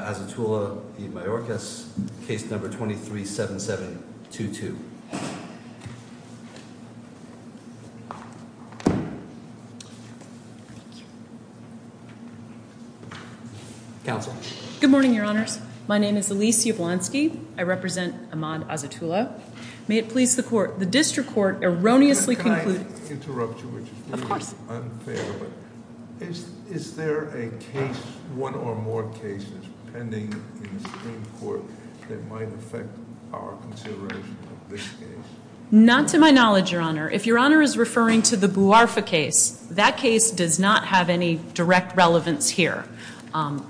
Azatullah v. Mayorkas, Case No. 23-7722. Good morning, Your Honors. My name is Elise Yablonski. I represent Ahmad Azatullah. May it please the court, the district court erroneously concluded- Can I interrupt you? Of course. Is there a case, one or more cases pending in the Supreme Court that might affect our consideration of this case? Not to my knowledge, Your Honor. If Your Honor is referring to the Bouarfa case, that case does not have any direct relevance here.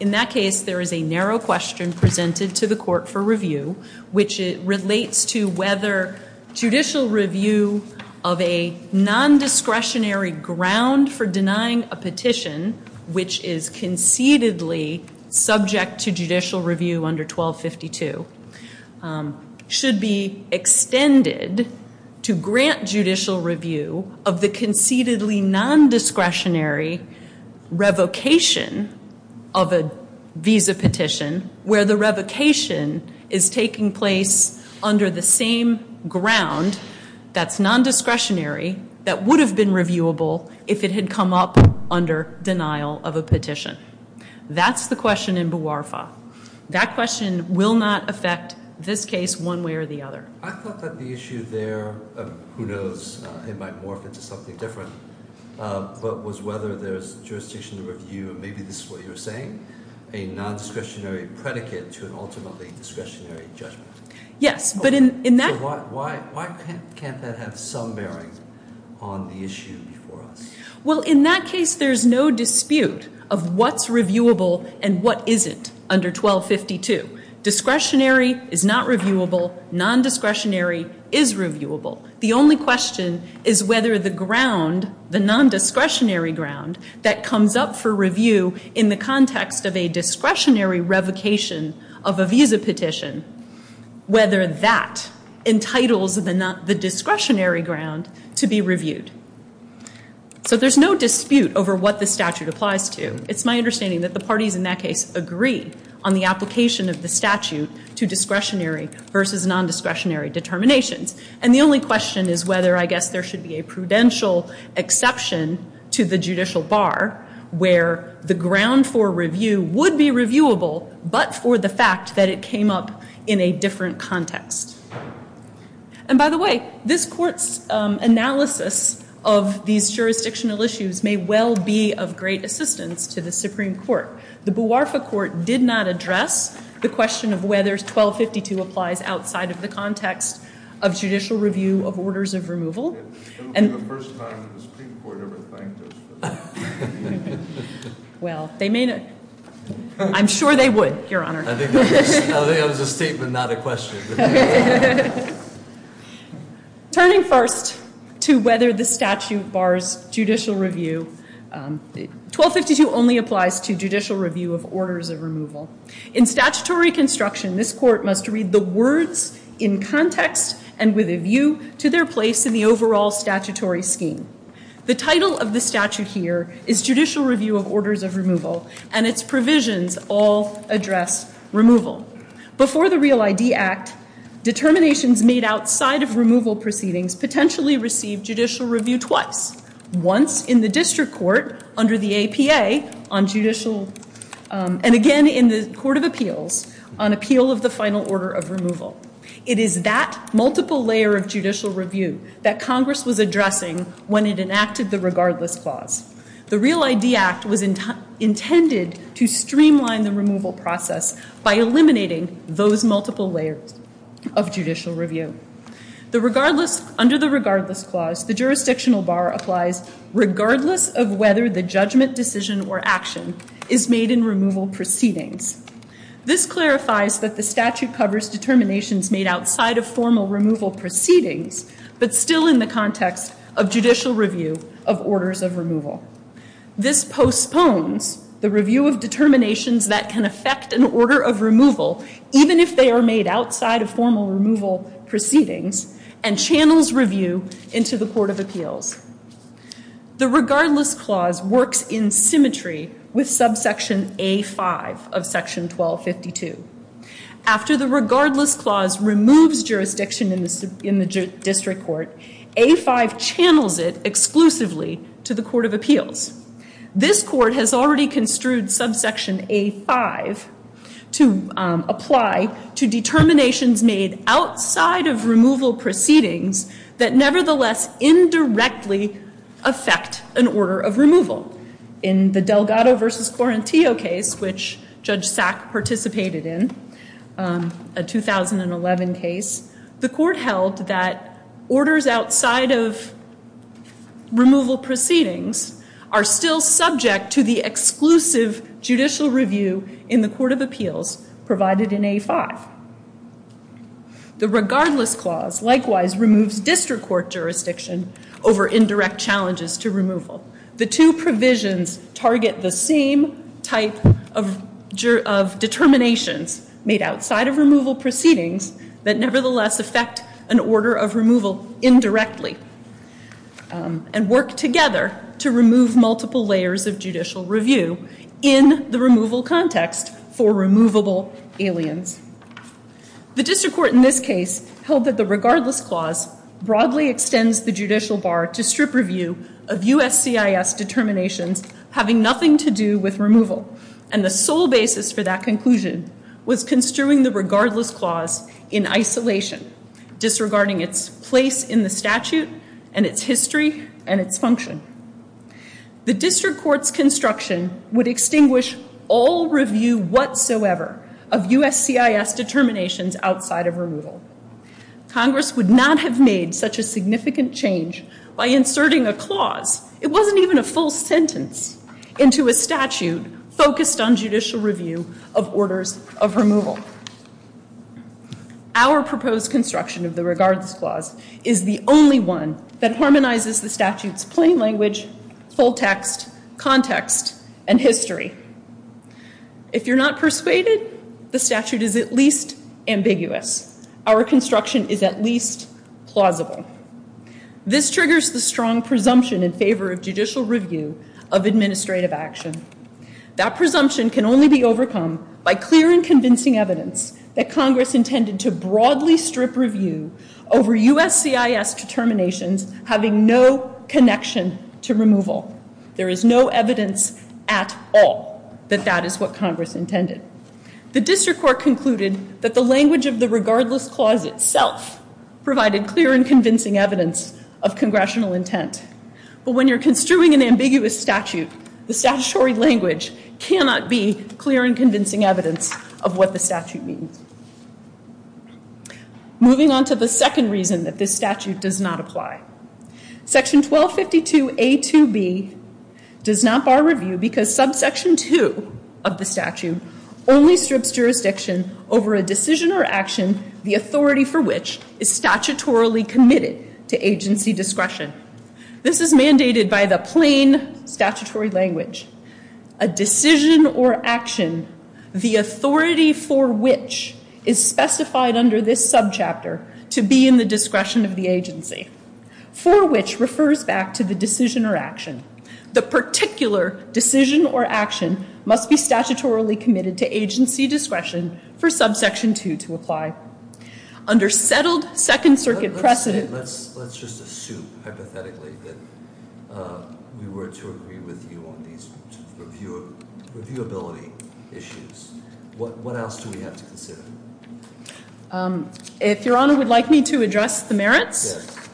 In that case, there is a narrow question presented to the court for review, which relates to whether judicial review of a nondiscretionary ground for denying a petition, which is concededly subject to judicial review under 1252, should be extended to grant judicial review of the concededly nondiscretionary revocation of a visa petition where the revocation is taking place under the same ground that's nondiscretionary that would have been reviewable if it had come up under denial of a petition. That's the question in Bouarfa. That question will not affect this case one way or the other. I thought that the issue there, who knows, it might morph into something different, but was whether there's jurisdiction to review, and maybe this is what you were saying, a nondiscretionary predicate to an ultimately discretionary judgment. Yes, but in that- So why can't that have some bearing on the issue before us? Well, in that case, there's no dispute of what's reviewable and what isn't under 1252. Discretionary is not reviewable. Nondiscretionary is reviewable. The only question is whether the ground, the nondiscretionary ground, that comes up for review in the context of a discretionary revocation of a visa petition, whether that entitles the discretionary ground to be reviewed. So there's no dispute over what the statute applies to. It's my understanding that the parties in that case agree on the application of the statute to discretionary versus nondiscretionary determinations. And the only question is whether, I guess, there should be a prudential exception to the judicial bar where the ground for review would be reviewable, but for the fact that it came up in a different context. And by the way, this Court's analysis of these jurisdictional issues may well be of great assistance to the Supreme Court. The Buarfa Court did not address the question of whether 1252 applies outside of the context of judicial review of orders of removal. It will be the first time that the Supreme Court ever thanked us for that. Well, they may not. I'm sure they would, Your Honor. I think that was a statement, not a question. Turning first to whether the statute bars judicial review, 1252 only applies to judicial review of orders of removal. In statutory construction, this Court must read the words in context and with a view to their place in the overall statutory scheme. The title of the statute here is Judicial Review of Orders of Removal, and its provisions all address removal. Before the Real ID Act, determinations made outside of removal proceedings potentially received judicial review twice. Once in the district court under the APA on judicial, and again in the Court of Appeals on appeal of the final order of removal. It is that multiple layer of judicial review that Congress was addressing when it enacted the Regardless Clause. The Real ID Act was intended to streamline the removal process by eliminating those multiple layers of judicial review. Under the Regardless Clause, the jurisdictional bar applies regardless of whether the judgment, decision, or action is made in removal proceedings. This clarifies that the statute covers determinations made outside of formal removal proceedings, but still in the context of judicial review of orders of removal. This postpones the review of determinations that can affect an order of removal, even if they are made outside of formal removal proceedings, and channels review into the Court of Appeals. The Regardless Clause works in symmetry with subsection A-5 of section 1252. After the Regardless Clause removes jurisdiction in the district court, A-5 channels it exclusively to the Court of Appeals. This court has already construed subsection A-5 to apply to determinations made outside of removal proceedings that nevertheless indirectly affect an order of removal. In the Delgado v. Quarantio case, which Judge Sack participated in, a 2011 case, the court held that orders outside of removal proceedings are still subject to the exclusive judicial review in the Court of Appeals provided in A-5. The Regardless Clause likewise removes district court jurisdiction over indirect challenges to removal. The two provisions target the same type of determinations made outside of removal proceedings that nevertheless affect an order of removal indirectly, and work together to remove multiple layers of judicial review in the removal context for removable aliens. The district court in this case held that the Regardless Clause broadly extends the judicial bar to strip review of USCIS determinations having nothing to do with removal, and the sole basis for that conclusion was construing the Regardless Clause in isolation, disregarding its place in the statute and its history and its function. The district court's construction would extinguish all review whatsoever of USCIS determinations outside of removal. Congress would not have made such a significant change by inserting a clause, it wasn't even a full sentence, into a statute focused on judicial review of orders of removal. Our proposed construction of the Regardless Clause is the only one that harmonizes the statute's plain language, full text, context, and history. If you're not persuaded, the statute is at least ambiguous. Our construction is at least plausible. This triggers the strong presumption in favor of judicial review of administrative action. That presumption can only be overcome by clear and convincing evidence that Congress intended to broadly strip review over USCIS determinations having no connection to removal. There is no evidence at all that that is what Congress intended. The district court concluded that the language of the Regardless Clause itself provided clear and convincing evidence of congressional intent. But when you're construing an ambiguous statute, the statutory language cannot be clear and convincing evidence of what the statute means. Moving on to the second reason that this statute does not apply. Section 1252A2B does not bar review because subsection 2 of the statute only strips jurisdiction over a decision or action the authority for which is statutorily committed to agency discretion. This is mandated by the plain statutory language. A decision or action the authority for which is specified under this subchapter to be in the discretion of the agency. For which refers back to the decision or action. The particular decision or action must be statutorily committed to agency discretion for subsection 2 to apply. Under settled Second Circuit precedent. Let's just assume hypothetically that we were to agree with you on these reviewability issues. What else do we have to consider? If Your Honor would like me to address the merits. Yes.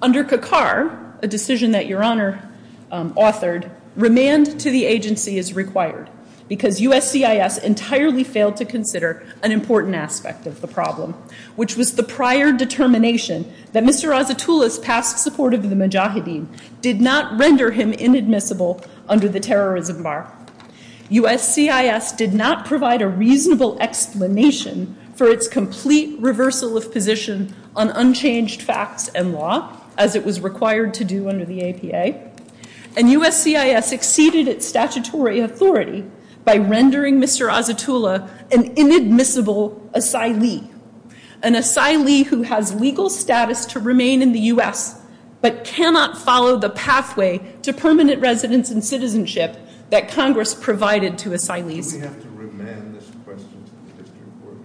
Under CACAR, a decision that Your Honor authored, remand to the agency is required. Because USCIS entirely failed to consider an important aspect of the problem. Which was the prior determination that Mr. Azatullah's past support of the Mujahideen did not render him inadmissible under the terrorism bar. USCIS did not provide a reasonable explanation for its complete reversal of position on unchanged facts and law as it was required to do under the APA. And USCIS exceeded its statutory authority by rendering Mr. Azatullah an inadmissible asylee. An asylee who has legal status to remain in the U.S. But cannot follow the pathway to permanent residence and citizenship that Congress provided to asylees. Do we have to remand this question to the district court?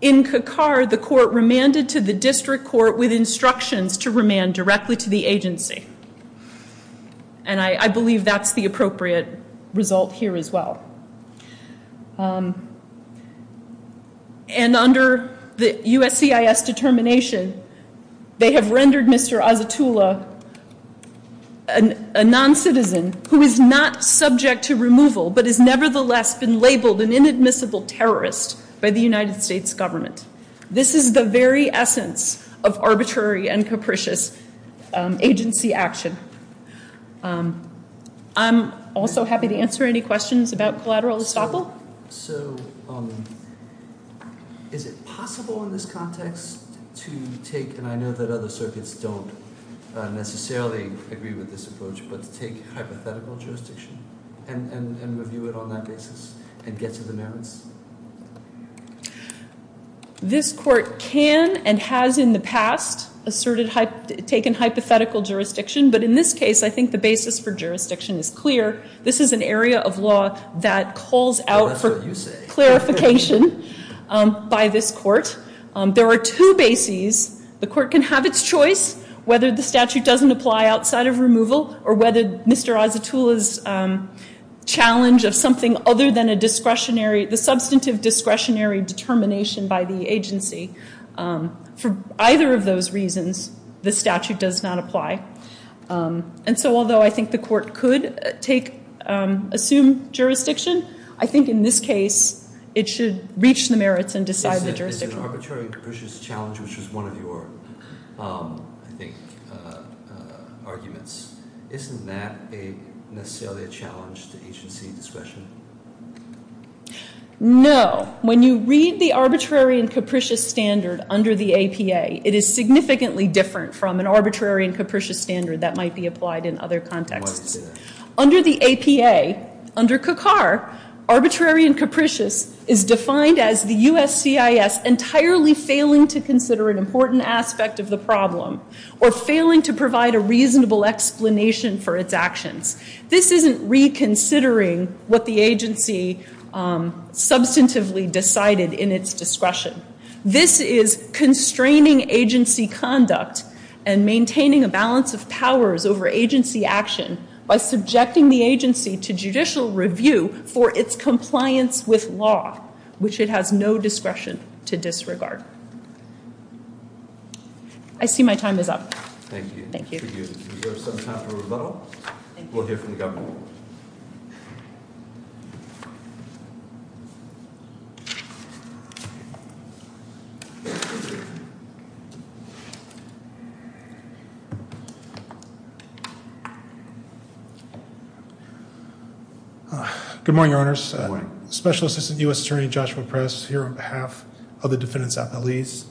In CACAR, the court remanded to the district court with instructions to remand directly to the agency. And I believe that's the appropriate result here as well. And under the USCIS determination, they have rendered Mr. Azatullah a non-citizen who is not subject to removal but has nevertheless been labeled an inadmissible terrorist by the United States government. This is the very essence of arbitrary and capricious agency action. I'm also happy to answer any questions about collateral estoppel. So, is it possible in this context to take, and I know that other circuits don't necessarily agree with this approach, but to take hypothetical jurisdiction and review it on that basis and get to the merits? This court can and has in the past asserted, taken hypothetical jurisdiction. But in this case, I think the basis for jurisdiction is clear. This is an area of law that calls out for clarification by this court. There are two bases. The court can have its choice whether the statute doesn't apply outside of removal or whether Mr. Azatullah's challenge of something other than a discretionary, the substantive discretionary determination by the agency. For either of those reasons, the statute does not apply. And so although I think the court could take, assume jurisdiction, I think in this case, it should reach the merits and decide the jurisdiction. But as an arbitrary and capricious challenge, which is one of your, I think, arguments, isn't that necessarily a challenge to agency discretion? No. When you read the arbitrary and capricious standard under the APA, it is significantly different from an arbitrary and capricious standard that might be applied in other contexts. Why do you say that? Under the APA, under CACAR, arbitrary and capricious is defined as the USCIS entirely failing to consider an important aspect of the problem or failing to provide a reasonable explanation for its actions. This isn't reconsidering what the agency substantively decided in its discretion. This is constraining agency conduct and maintaining a balance of powers over agency action by subjecting the agency to judicial review for its compliance with law, which it has no discretion to disregard. I see my time is up. Thank you. Thank you. We have some time for rebuttal. We'll hear from the governor. Good morning, Your Honors. Good morning. Special Assistant U.S. Attorney Joshua Press here on behalf of the defendants' appellees.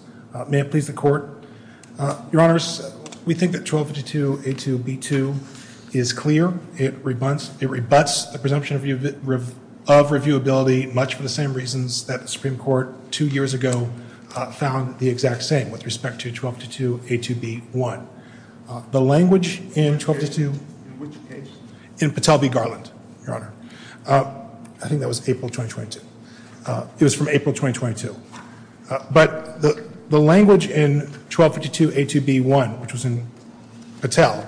May it please the Court. Your Honors, we think that 1252A2B2 is clear. It rebuts the presumption of reviewability much for the same reasons that the Supreme Court two years ago found the exact same with respect to 1252A2B1. The language in 1252... In which case? In Patel v. Garland, Your Honor. I think that was April 2022. It was from April 2022. But the language in 1252A2B1, which was in Patel,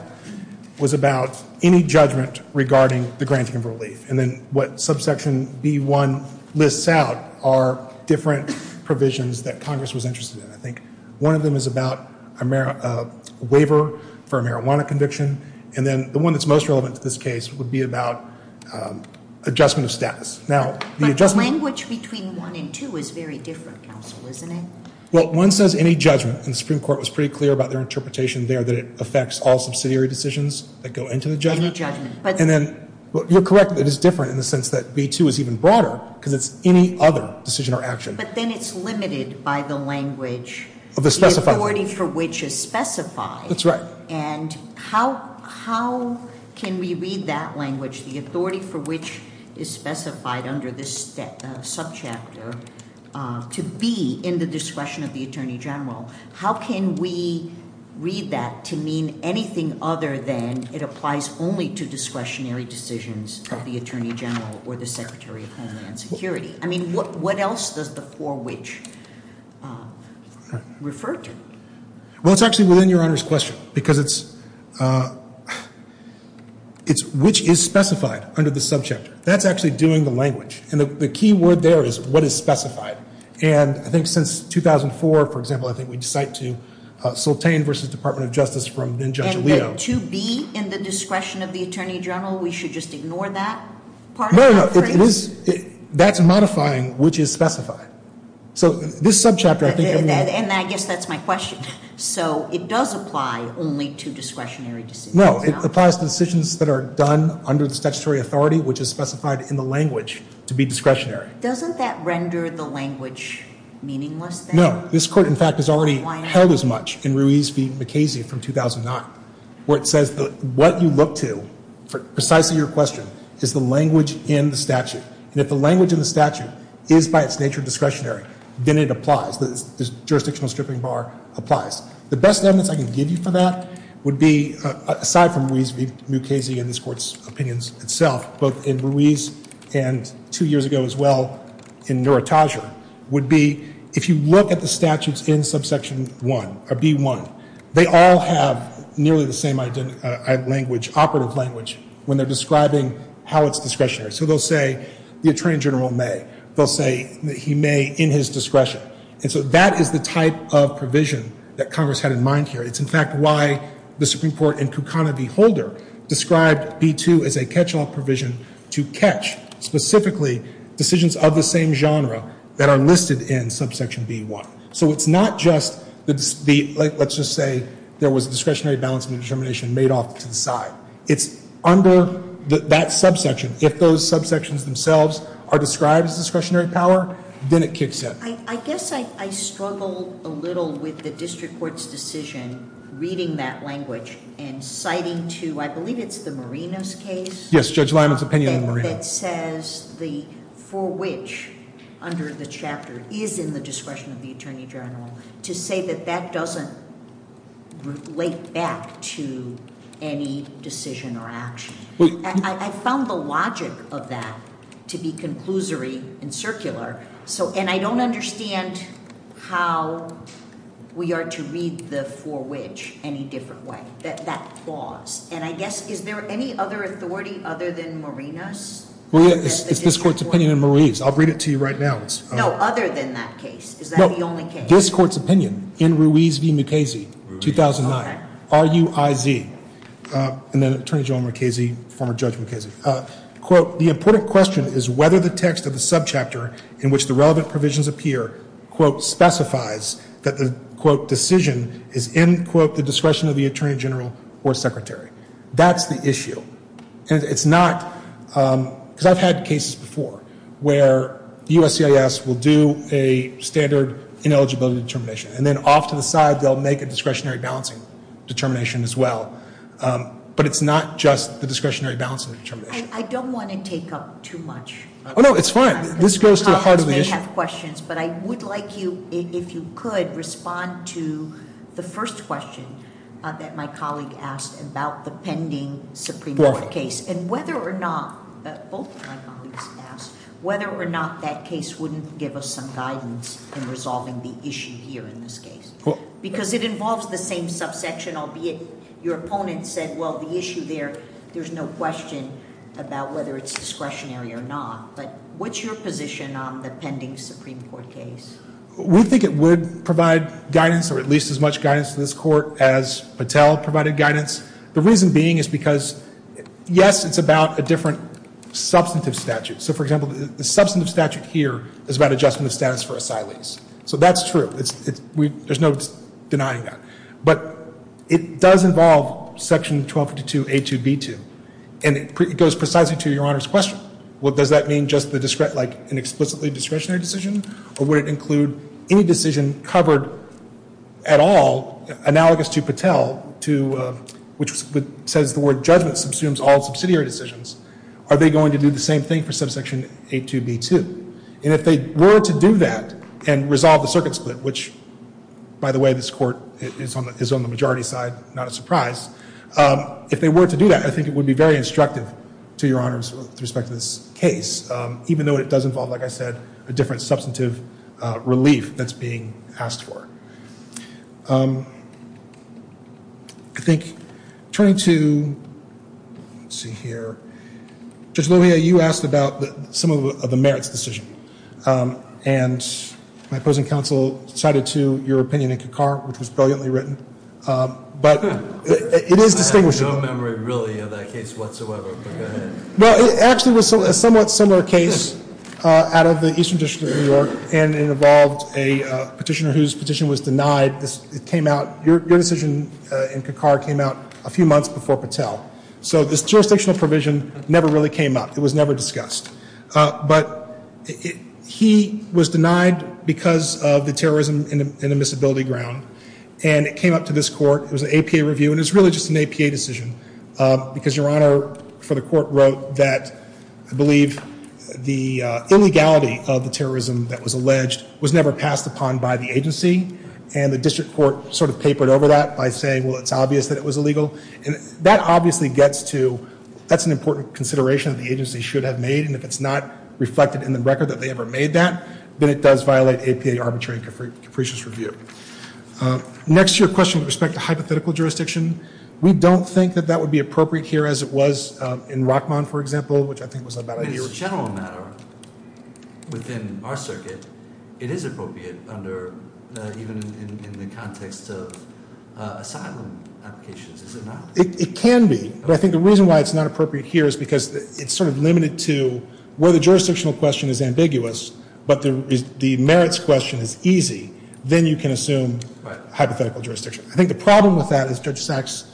was about any judgment regarding the granting of relief. And then what subsection B1 lists out are different provisions that Congress was interested in. I think one of them is about a waiver for a marijuana conviction. And then the one that's most relevant to this case would be about adjustment of status. But the language between 1 and 2 is very different, counsel, isn't it? Well, 1 says any judgment, and the Supreme Court was pretty clear about their interpretation there that it affects all subsidiary decisions that go into the judgment. Any judgment. You're correct that it's different in the sense that B2 is even broader because it's any other decision or action. But then it's limited by the language, the authority for which is specified. That's right. And how can we read that language, the authority for which is specified under this subchapter, to be in the discretion of the Attorney General? How can we read that to mean anything other than it applies only to discretionary decisions of the Attorney General or the Secretary of Homeland Security? I mean, what else does the for which refer to? Well, it's actually within Your Honor's question because it's which is specified under the subchapter. That's actually doing the language. And the key word there is what is specified. And I think since 2004, for example, I think we cite to Soltan v. Department of Justice from Judge Leo. And then 2B, in the discretion of the Attorney General, we should just ignore that part of it? No, no, no. That's modifying which is specified. So this subchapter, I think, I mean. And I guess that's my question. So it does apply only to discretionary decisions? No, it applies to decisions that are done under the statutory authority, which is specified in the language, to be discretionary. Doesn't that render the language meaningless, then? No. This Court, in fact, has already held as much in Ruiz v. McCasey from 2009, where it says that what you look to for precisely your question is the language in the statute. And if the language in the statute is, by its nature, discretionary, then it applies. The jurisdictional stripping bar applies. The best evidence I can give you for that would be, aside from Ruiz v. McCasey and this Court's opinions itself, both in Ruiz and two years ago as well in Nuritaja, would be if you look at the statutes in subsection 1, or B1, they all have nearly the same language, operative language, when they're describing how it's discretionary. So they'll say the attorney general may. They'll say that he may in his discretion. And so that is the type of provision that Congress had in mind here. It's, in fact, why the Supreme Court in Kukana v. Holder described B2 as a catch-all provision to catch specifically decisions of the same genre that are listed in subsection B1. So it's not just the, let's just say there was a discretionary balance of determination made off to the side. It's under that subsection. If those subsections themselves are described as discretionary power, then it kicks in. I guess I struggle a little with the district court's decision reading that language and citing to, I believe it's the Marinos case? It says the for which, under the chapter, is in the discretion of the attorney general, to say that that doesn't relate back to any decision or action. I found the logic of that to be conclusory and circular. And I don't understand how we are to read the for which any different way, that clause. And I guess, is there any other authority other than Marinos? It's this court's opinion in Ruiz. I'll read it to you right now. No, other than that case. Is that the only case? This court's opinion in Ruiz v. Mukasey, 2009. R-U-I-Z. And then Attorney General Mukasey, former Judge Mukasey. Quote, the important question is whether the text of the subchapter in which the relevant provisions appear, quote, That's the issue. And it's not, because I've had cases before where USCIS will do a standard ineligibility determination. And then off to the side, they'll make a discretionary balancing determination as well. But it's not just the discretionary balancing determination. I don't want to take up too much. Oh, no, it's fine. This goes to the heart of the issue. I have questions, but I would like you, if you could, respond to the first question that my colleague asked about the pending Supreme Court case. And whether or not, both of my colleagues asked, whether or not that case wouldn't give us some guidance in resolving the issue here in this case. Because it involves the same subsection, albeit your opponent said, well, the issue there, there's no question about whether it's discretionary or not. But what's your position on the pending Supreme Court case? We think it would provide guidance, or at least as much guidance to this Court as Patel provided guidance. The reason being is because, yes, it's about a different substantive statute. So, for example, the substantive statute here is about adjustment of status for asylees. So that's true. There's no denying that. But it does involve section 1252A2B2. And it goes precisely to Your Honor's question. Well, does that mean just an explicitly discretionary decision? Or would it include any decision covered at all, analogous to Patel, which says the word judgment subsumes all subsidiary decisions? Are they going to do the same thing for subsection A2B2? And if they were to do that and resolve the circuit split, which, by the way, this Court is on the majority side, not a surprise. If they were to do that, I think it would be very instructive to Your Honors with respect to this case, even though it does involve, like I said, a different substantive relief that's being asked for. I think turning to, let's see here. Judge Lohia, you asked about some of the merits decision. And my opposing counsel cited to your opinion in Kakar, which was brilliantly written. But it is distinguishable. I have no memory, really, of that case whatsoever. But go ahead. Well, it actually was a somewhat similar case out of the Eastern District of New York. And it involved a petitioner whose petition was denied. It came out, your decision in Kakar came out a few months before Patel. So this jurisdictional provision never really came up. It was never discussed. But he was denied because of the terrorism in the Missability Ground. And it came up to this Court. It was an APA review. And it was really just an APA decision. Because your Honor, for the Court wrote that I believe the illegality of the terrorism that was alleged was never passed upon by the agency. And the District Court sort of papered over that by saying, well, it's obvious that it was illegal. And that obviously gets to, that's an important consideration that the agency should have made. And if it's not reflected in the record that they ever made that, then it does violate APA arbitrary and capricious review. Next to your question with respect to hypothetical jurisdiction, we don't think that that would be appropriate here as it was in Rockmont, for example, which I think was about a year ago. But as a general matter, within our circuit, it is appropriate under, even in the context of asylum applications, is it not? It can be. But I think the reason why it's not appropriate here is because it's sort of limited to where the jurisdictional question is ambiguous, but the merits question is easy, then you can assume hypothetical jurisdiction. I think the problem with that, as Judge Sachs'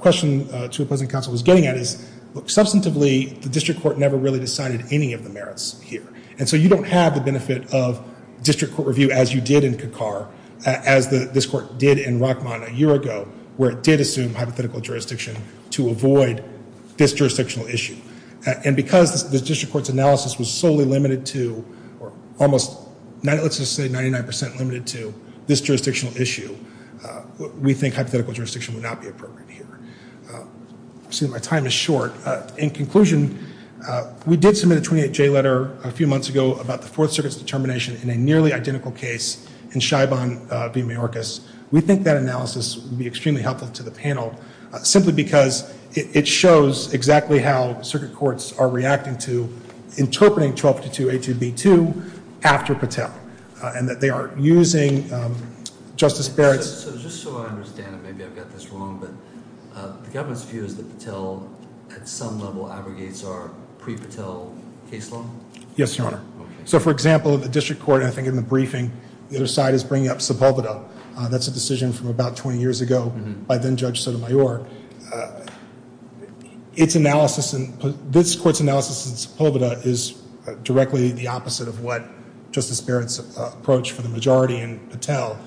question to opposing counsel was getting at, is substantively the District Court never really decided any of the merits here. And so you don't have the benefit of District Court review as you did in Kakar, as this Court did in Rockmont a year ago, where it did assume hypothetical jurisdiction to avoid this jurisdictional issue. And because the District Court's analysis was solely limited to, or almost, let's just say 99% limited to this jurisdictional issue, we think hypothetical jurisdiction would not be appropriate here. I see my time is short. In conclusion, we did submit a 28-J letter a few months ago about the Fourth Circuit's determination in a nearly identical case in Scheibon v. Mayorkas. Simply because it shows exactly how circuit courts are reacting to interpreting 1252A2B2 after Patel and that they are using Justice Barrett's... So just so I understand it, maybe I've got this wrong, but the government's view is that Patel, at some level, aggregates our pre-Patel case law? Yes, Your Honor. So, for example, in the District Court, I think in the briefing, the other side is bringing up Sepulveda. That's a decision from about 20 years ago by then-Judge Sotomayor. Its analysis and this Court's analysis in Sepulveda is directly the opposite of what Justice Barrett's approach for the majority in Patel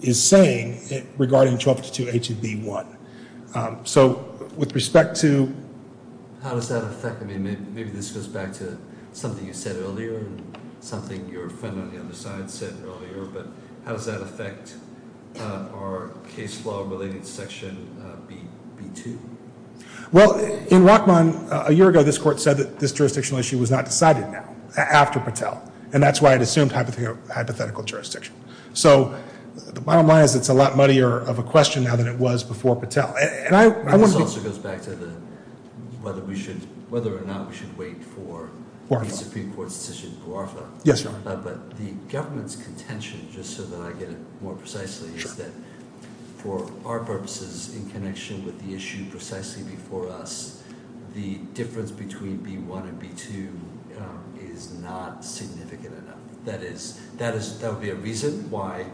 is saying regarding 1252A2B1. So with respect to... How does that affect... I mean, maybe this goes back to something you said earlier and something your friend on the other side said earlier, but how does that affect our case law-related section B2? Well, in Rachman, a year ago, this Court said that this jurisdictional issue was not decided after Patel, and that's why it assumed hypothetical jurisdiction. So the bottom line is it's a lot muddier of a question now than it was before Patel. This also goes back to whether or not we should wait for the Supreme Court's decision in Buarfa. Yes, Your Honor. But the government's contention, just so that I get it more precisely, is that for our purposes in connection with the issue precisely before us, the difference between B1 and B2 is not significant enough. That would be a reason why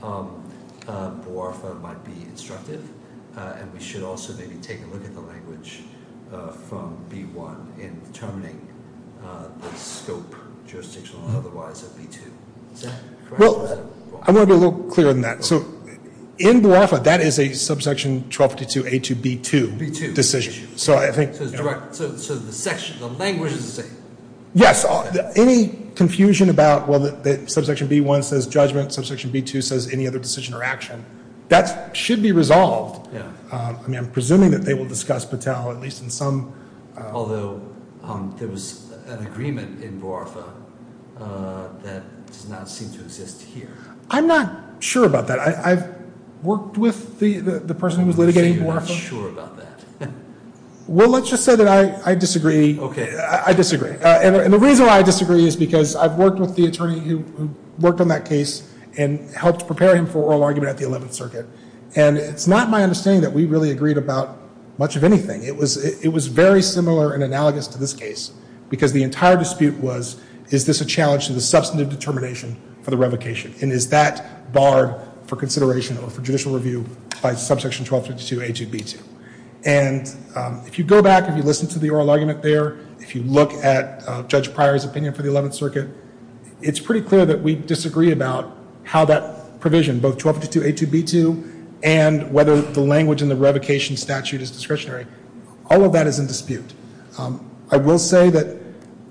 Buarfa might be instructive, and we should also maybe take a look at the language from B1 in determining the scope, jurisdictional or otherwise, of B2. Is that correct? I want to be a little clearer than that. So in Buarfa, that is a subsection 1252A2B2 decision. So the language is the same? Yes. Any confusion about, well, that subsection B1 says judgment, subsection B2 says any other decision or action, that should be resolved. I mean, I'm presuming that they will discuss Patel, at least in some. Although there was an agreement in Buarfa that does not seem to exist here. I'm not sure about that. I've worked with the person who was litigating in Buarfa. So you're not sure about that. Well, let's just say that I disagree. Okay. I disagree. And the reason why I disagree is because I've worked with the attorney who worked on that case and helped prepare him for oral argument at the Eleventh Circuit. And it's not my understanding that we really agreed about much of anything. It was very similar and analogous to this case because the entire dispute was, is this a challenge to the substantive determination for the revocation, and is that barred for consideration or for judicial review by subsection 1252A2B2. And if you go back, if you listen to the oral argument there, if you look at Judge Pryor's opinion for the Eleventh Circuit, it's pretty clear that we disagree about how that provision, both 1252A2B2 and whether the language in the revocation statute is discretionary. All of that is in dispute. I will say that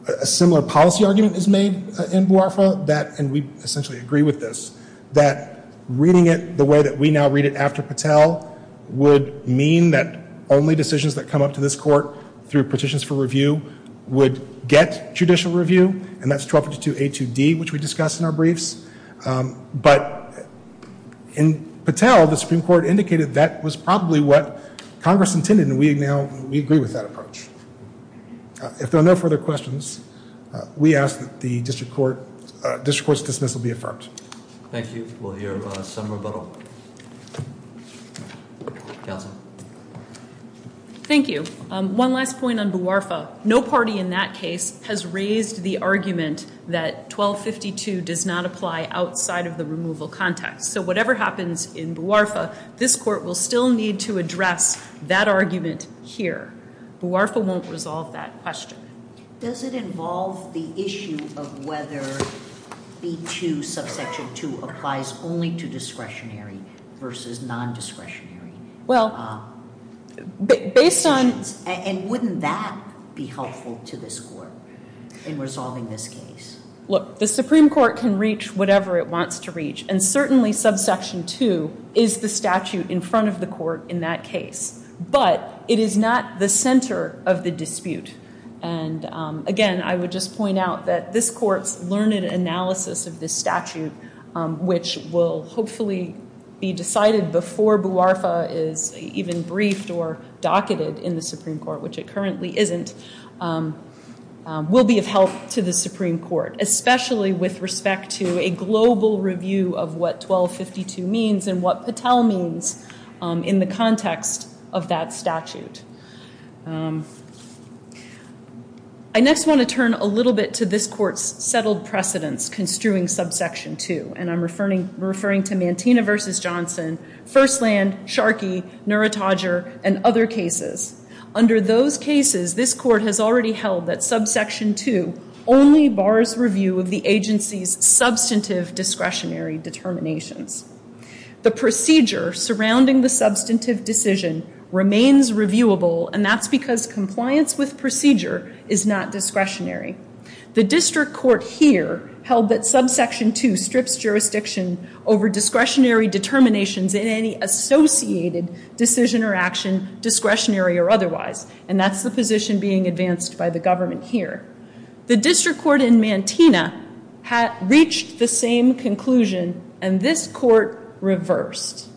a similar policy argument is made in Buarfa that, and we essentially agree with this, that reading it the way that we now read it after Patel would mean that only decisions that come up to this court through petitions for review would get judicial review, and that's 1252A2D, which we discussed in our briefs. But in Patel, the Supreme Court indicated that was probably what Congress intended, and we agree with that approach. If there are no further questions, we ask that the district court's dismissal be affirmed. Thank you. We'll hear some rebuttal. Counsel. Thank you. One last point on Buarfa. No party in that case has raised the argument that 1252 does not apply outside of the removal context. So whatever happens in Buarfa, this court will still need to address that argument here. Buarfa won't resolve that question. Does it involve the issue of whether B2, subsection 2, applies only to discretionary versus nondiscretionary? Well, based on— And wouldn't that be helpful to this court in resolving this case? Look, the Supreme Court can reach whatever it wants to reach, and certainly subsection 2 is the statute in front of the court in that case. But it is not the center of the dispute. And again, I would just point out that this court's learned analysis of this statute, which will hopefully be decided before Buarfa is even briefed or docketed in the Supreme Court, which it currently isn't, will be of help to the Supreme Court, especially with respect to a global review of what 1252 means and what Patel means in the context of that statute. I next want to turn a little bit to this court's settled precedence construing subsection 2, and I'm referring to Mantino v. Johnson, Firstland, Sharkey, Neurotodger, and other cases. Under those cases, this court has already held that subsection 2 only bars review of the agency's substantive discretionary determinations. The procedure surrounding the substantive decision remains reviewable, and that's because compliance with procedure is not discretionary. The district court here held that subsection 2 strips jurisdiction over discretionary determinations in any associated decision or action, discretionary or otherwise, and that's the position being advanced by the government here. The district court in Mantino reached the same conclusion, and this court reversed.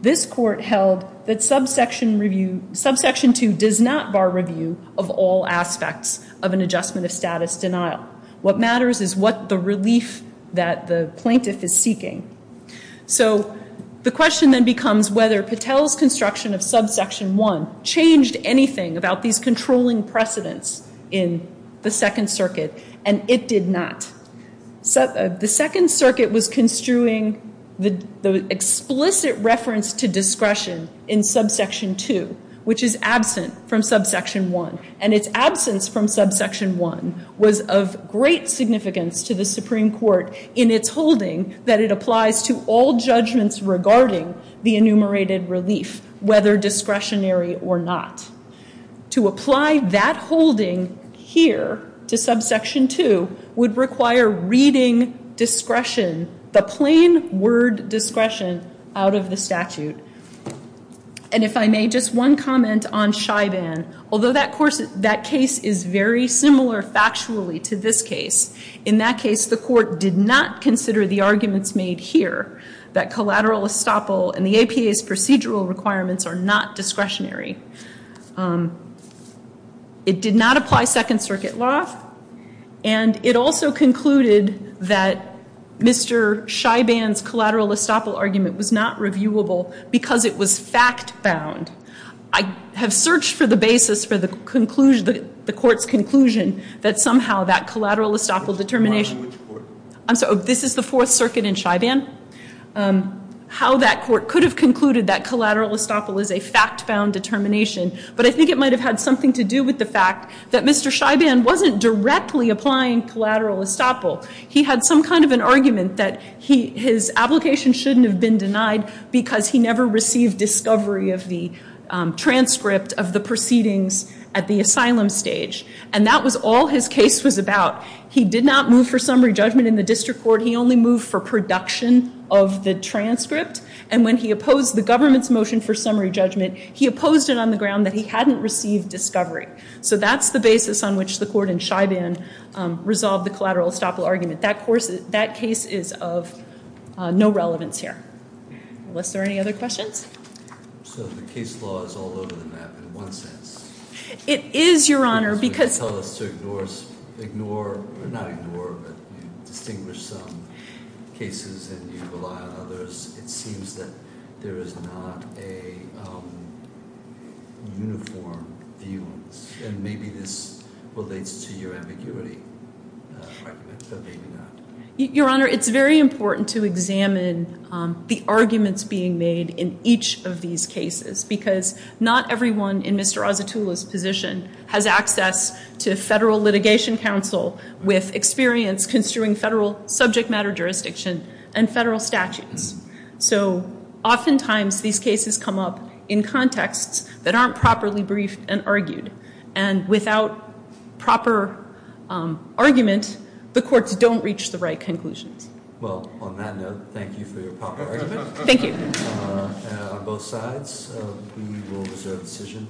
This court held that subsection 2 does not bar review of all aspects of an adjustment of status denial. What matters is what the relief that the plaintiff is seeking. So the question then becomes whether Patel's construction of subsection 1 changed anything about these controlling precedents in the Second Circuit, and it did not. The Second Circuit was construing the explicit reference to discretion in subsection 2, which is absent from subsection 1, and its absence from subsection 1 was of great significance to the Supreme Court in its holding that it applies to all judgments regarding the enumerated relief, whether discretionary or not. To apply that holding here to subsection 2 would require reading discretion, the plain word discretion, out of the statute. And if I may, just one comment on Scheiban. Although that case is very similar factually to this case, in that case, the court did not consider the arguments made here that collateral estoppel and the APA's procedural requirements are not discretionary. It did not apply Second Circuit law, and it also concluded that Mr. Scheiban's collateral estoppel argument was not reviewable because it was fact-bound. I have searched for the basis for the court's conclusion that somehow that collateral estoppel determination I'm sorry, this is the Fourth Circuit in Scheiban? How that court could have concluded that collateral estoppel is a fact-bound determination, but I think it might have had something to do with the fact that Mr. Scheiban wasn't directly applying collateral estoppel. He had some kind of an argument that his application shouldn't have been denied because he never received discovery of the transcript of the proceedings at the asylum stage. And that was all his case was about. He did not move for summary judgment in the district court. He only moved for production of the transcript. And when he opposed the government's motion for summary judgment, he opposed it on the ground that he hadn't received discovery. So that's the basis on which the court in Scheiban resolved the collateral estoppel argument. That case is of no relevance here. Unless there are any other questions? So the case law is all over the map in one sense. It is, Your Honor. Because you tell us to ignore, or not ignore, but distinguish some cases and you rely on others. It seems that there is not a uniform view on this. And maybe this relates to your ambiguity argument, but maybe not. Your Honor, it's very important to examine the arguments being made in each of these cases because not everyone in Mr. Asitula's position has access to federal litigation counsel with experience construing federal subject matter jurisdiction and federal statutes. So oftentimes these cases come up in contexts that aren't properly briefed and argued. And without proper argument, the courts don't reach the right conclusions. Well, on that note, thank you for your proper argument. Thank you. And on both sides, we will reserve the decision.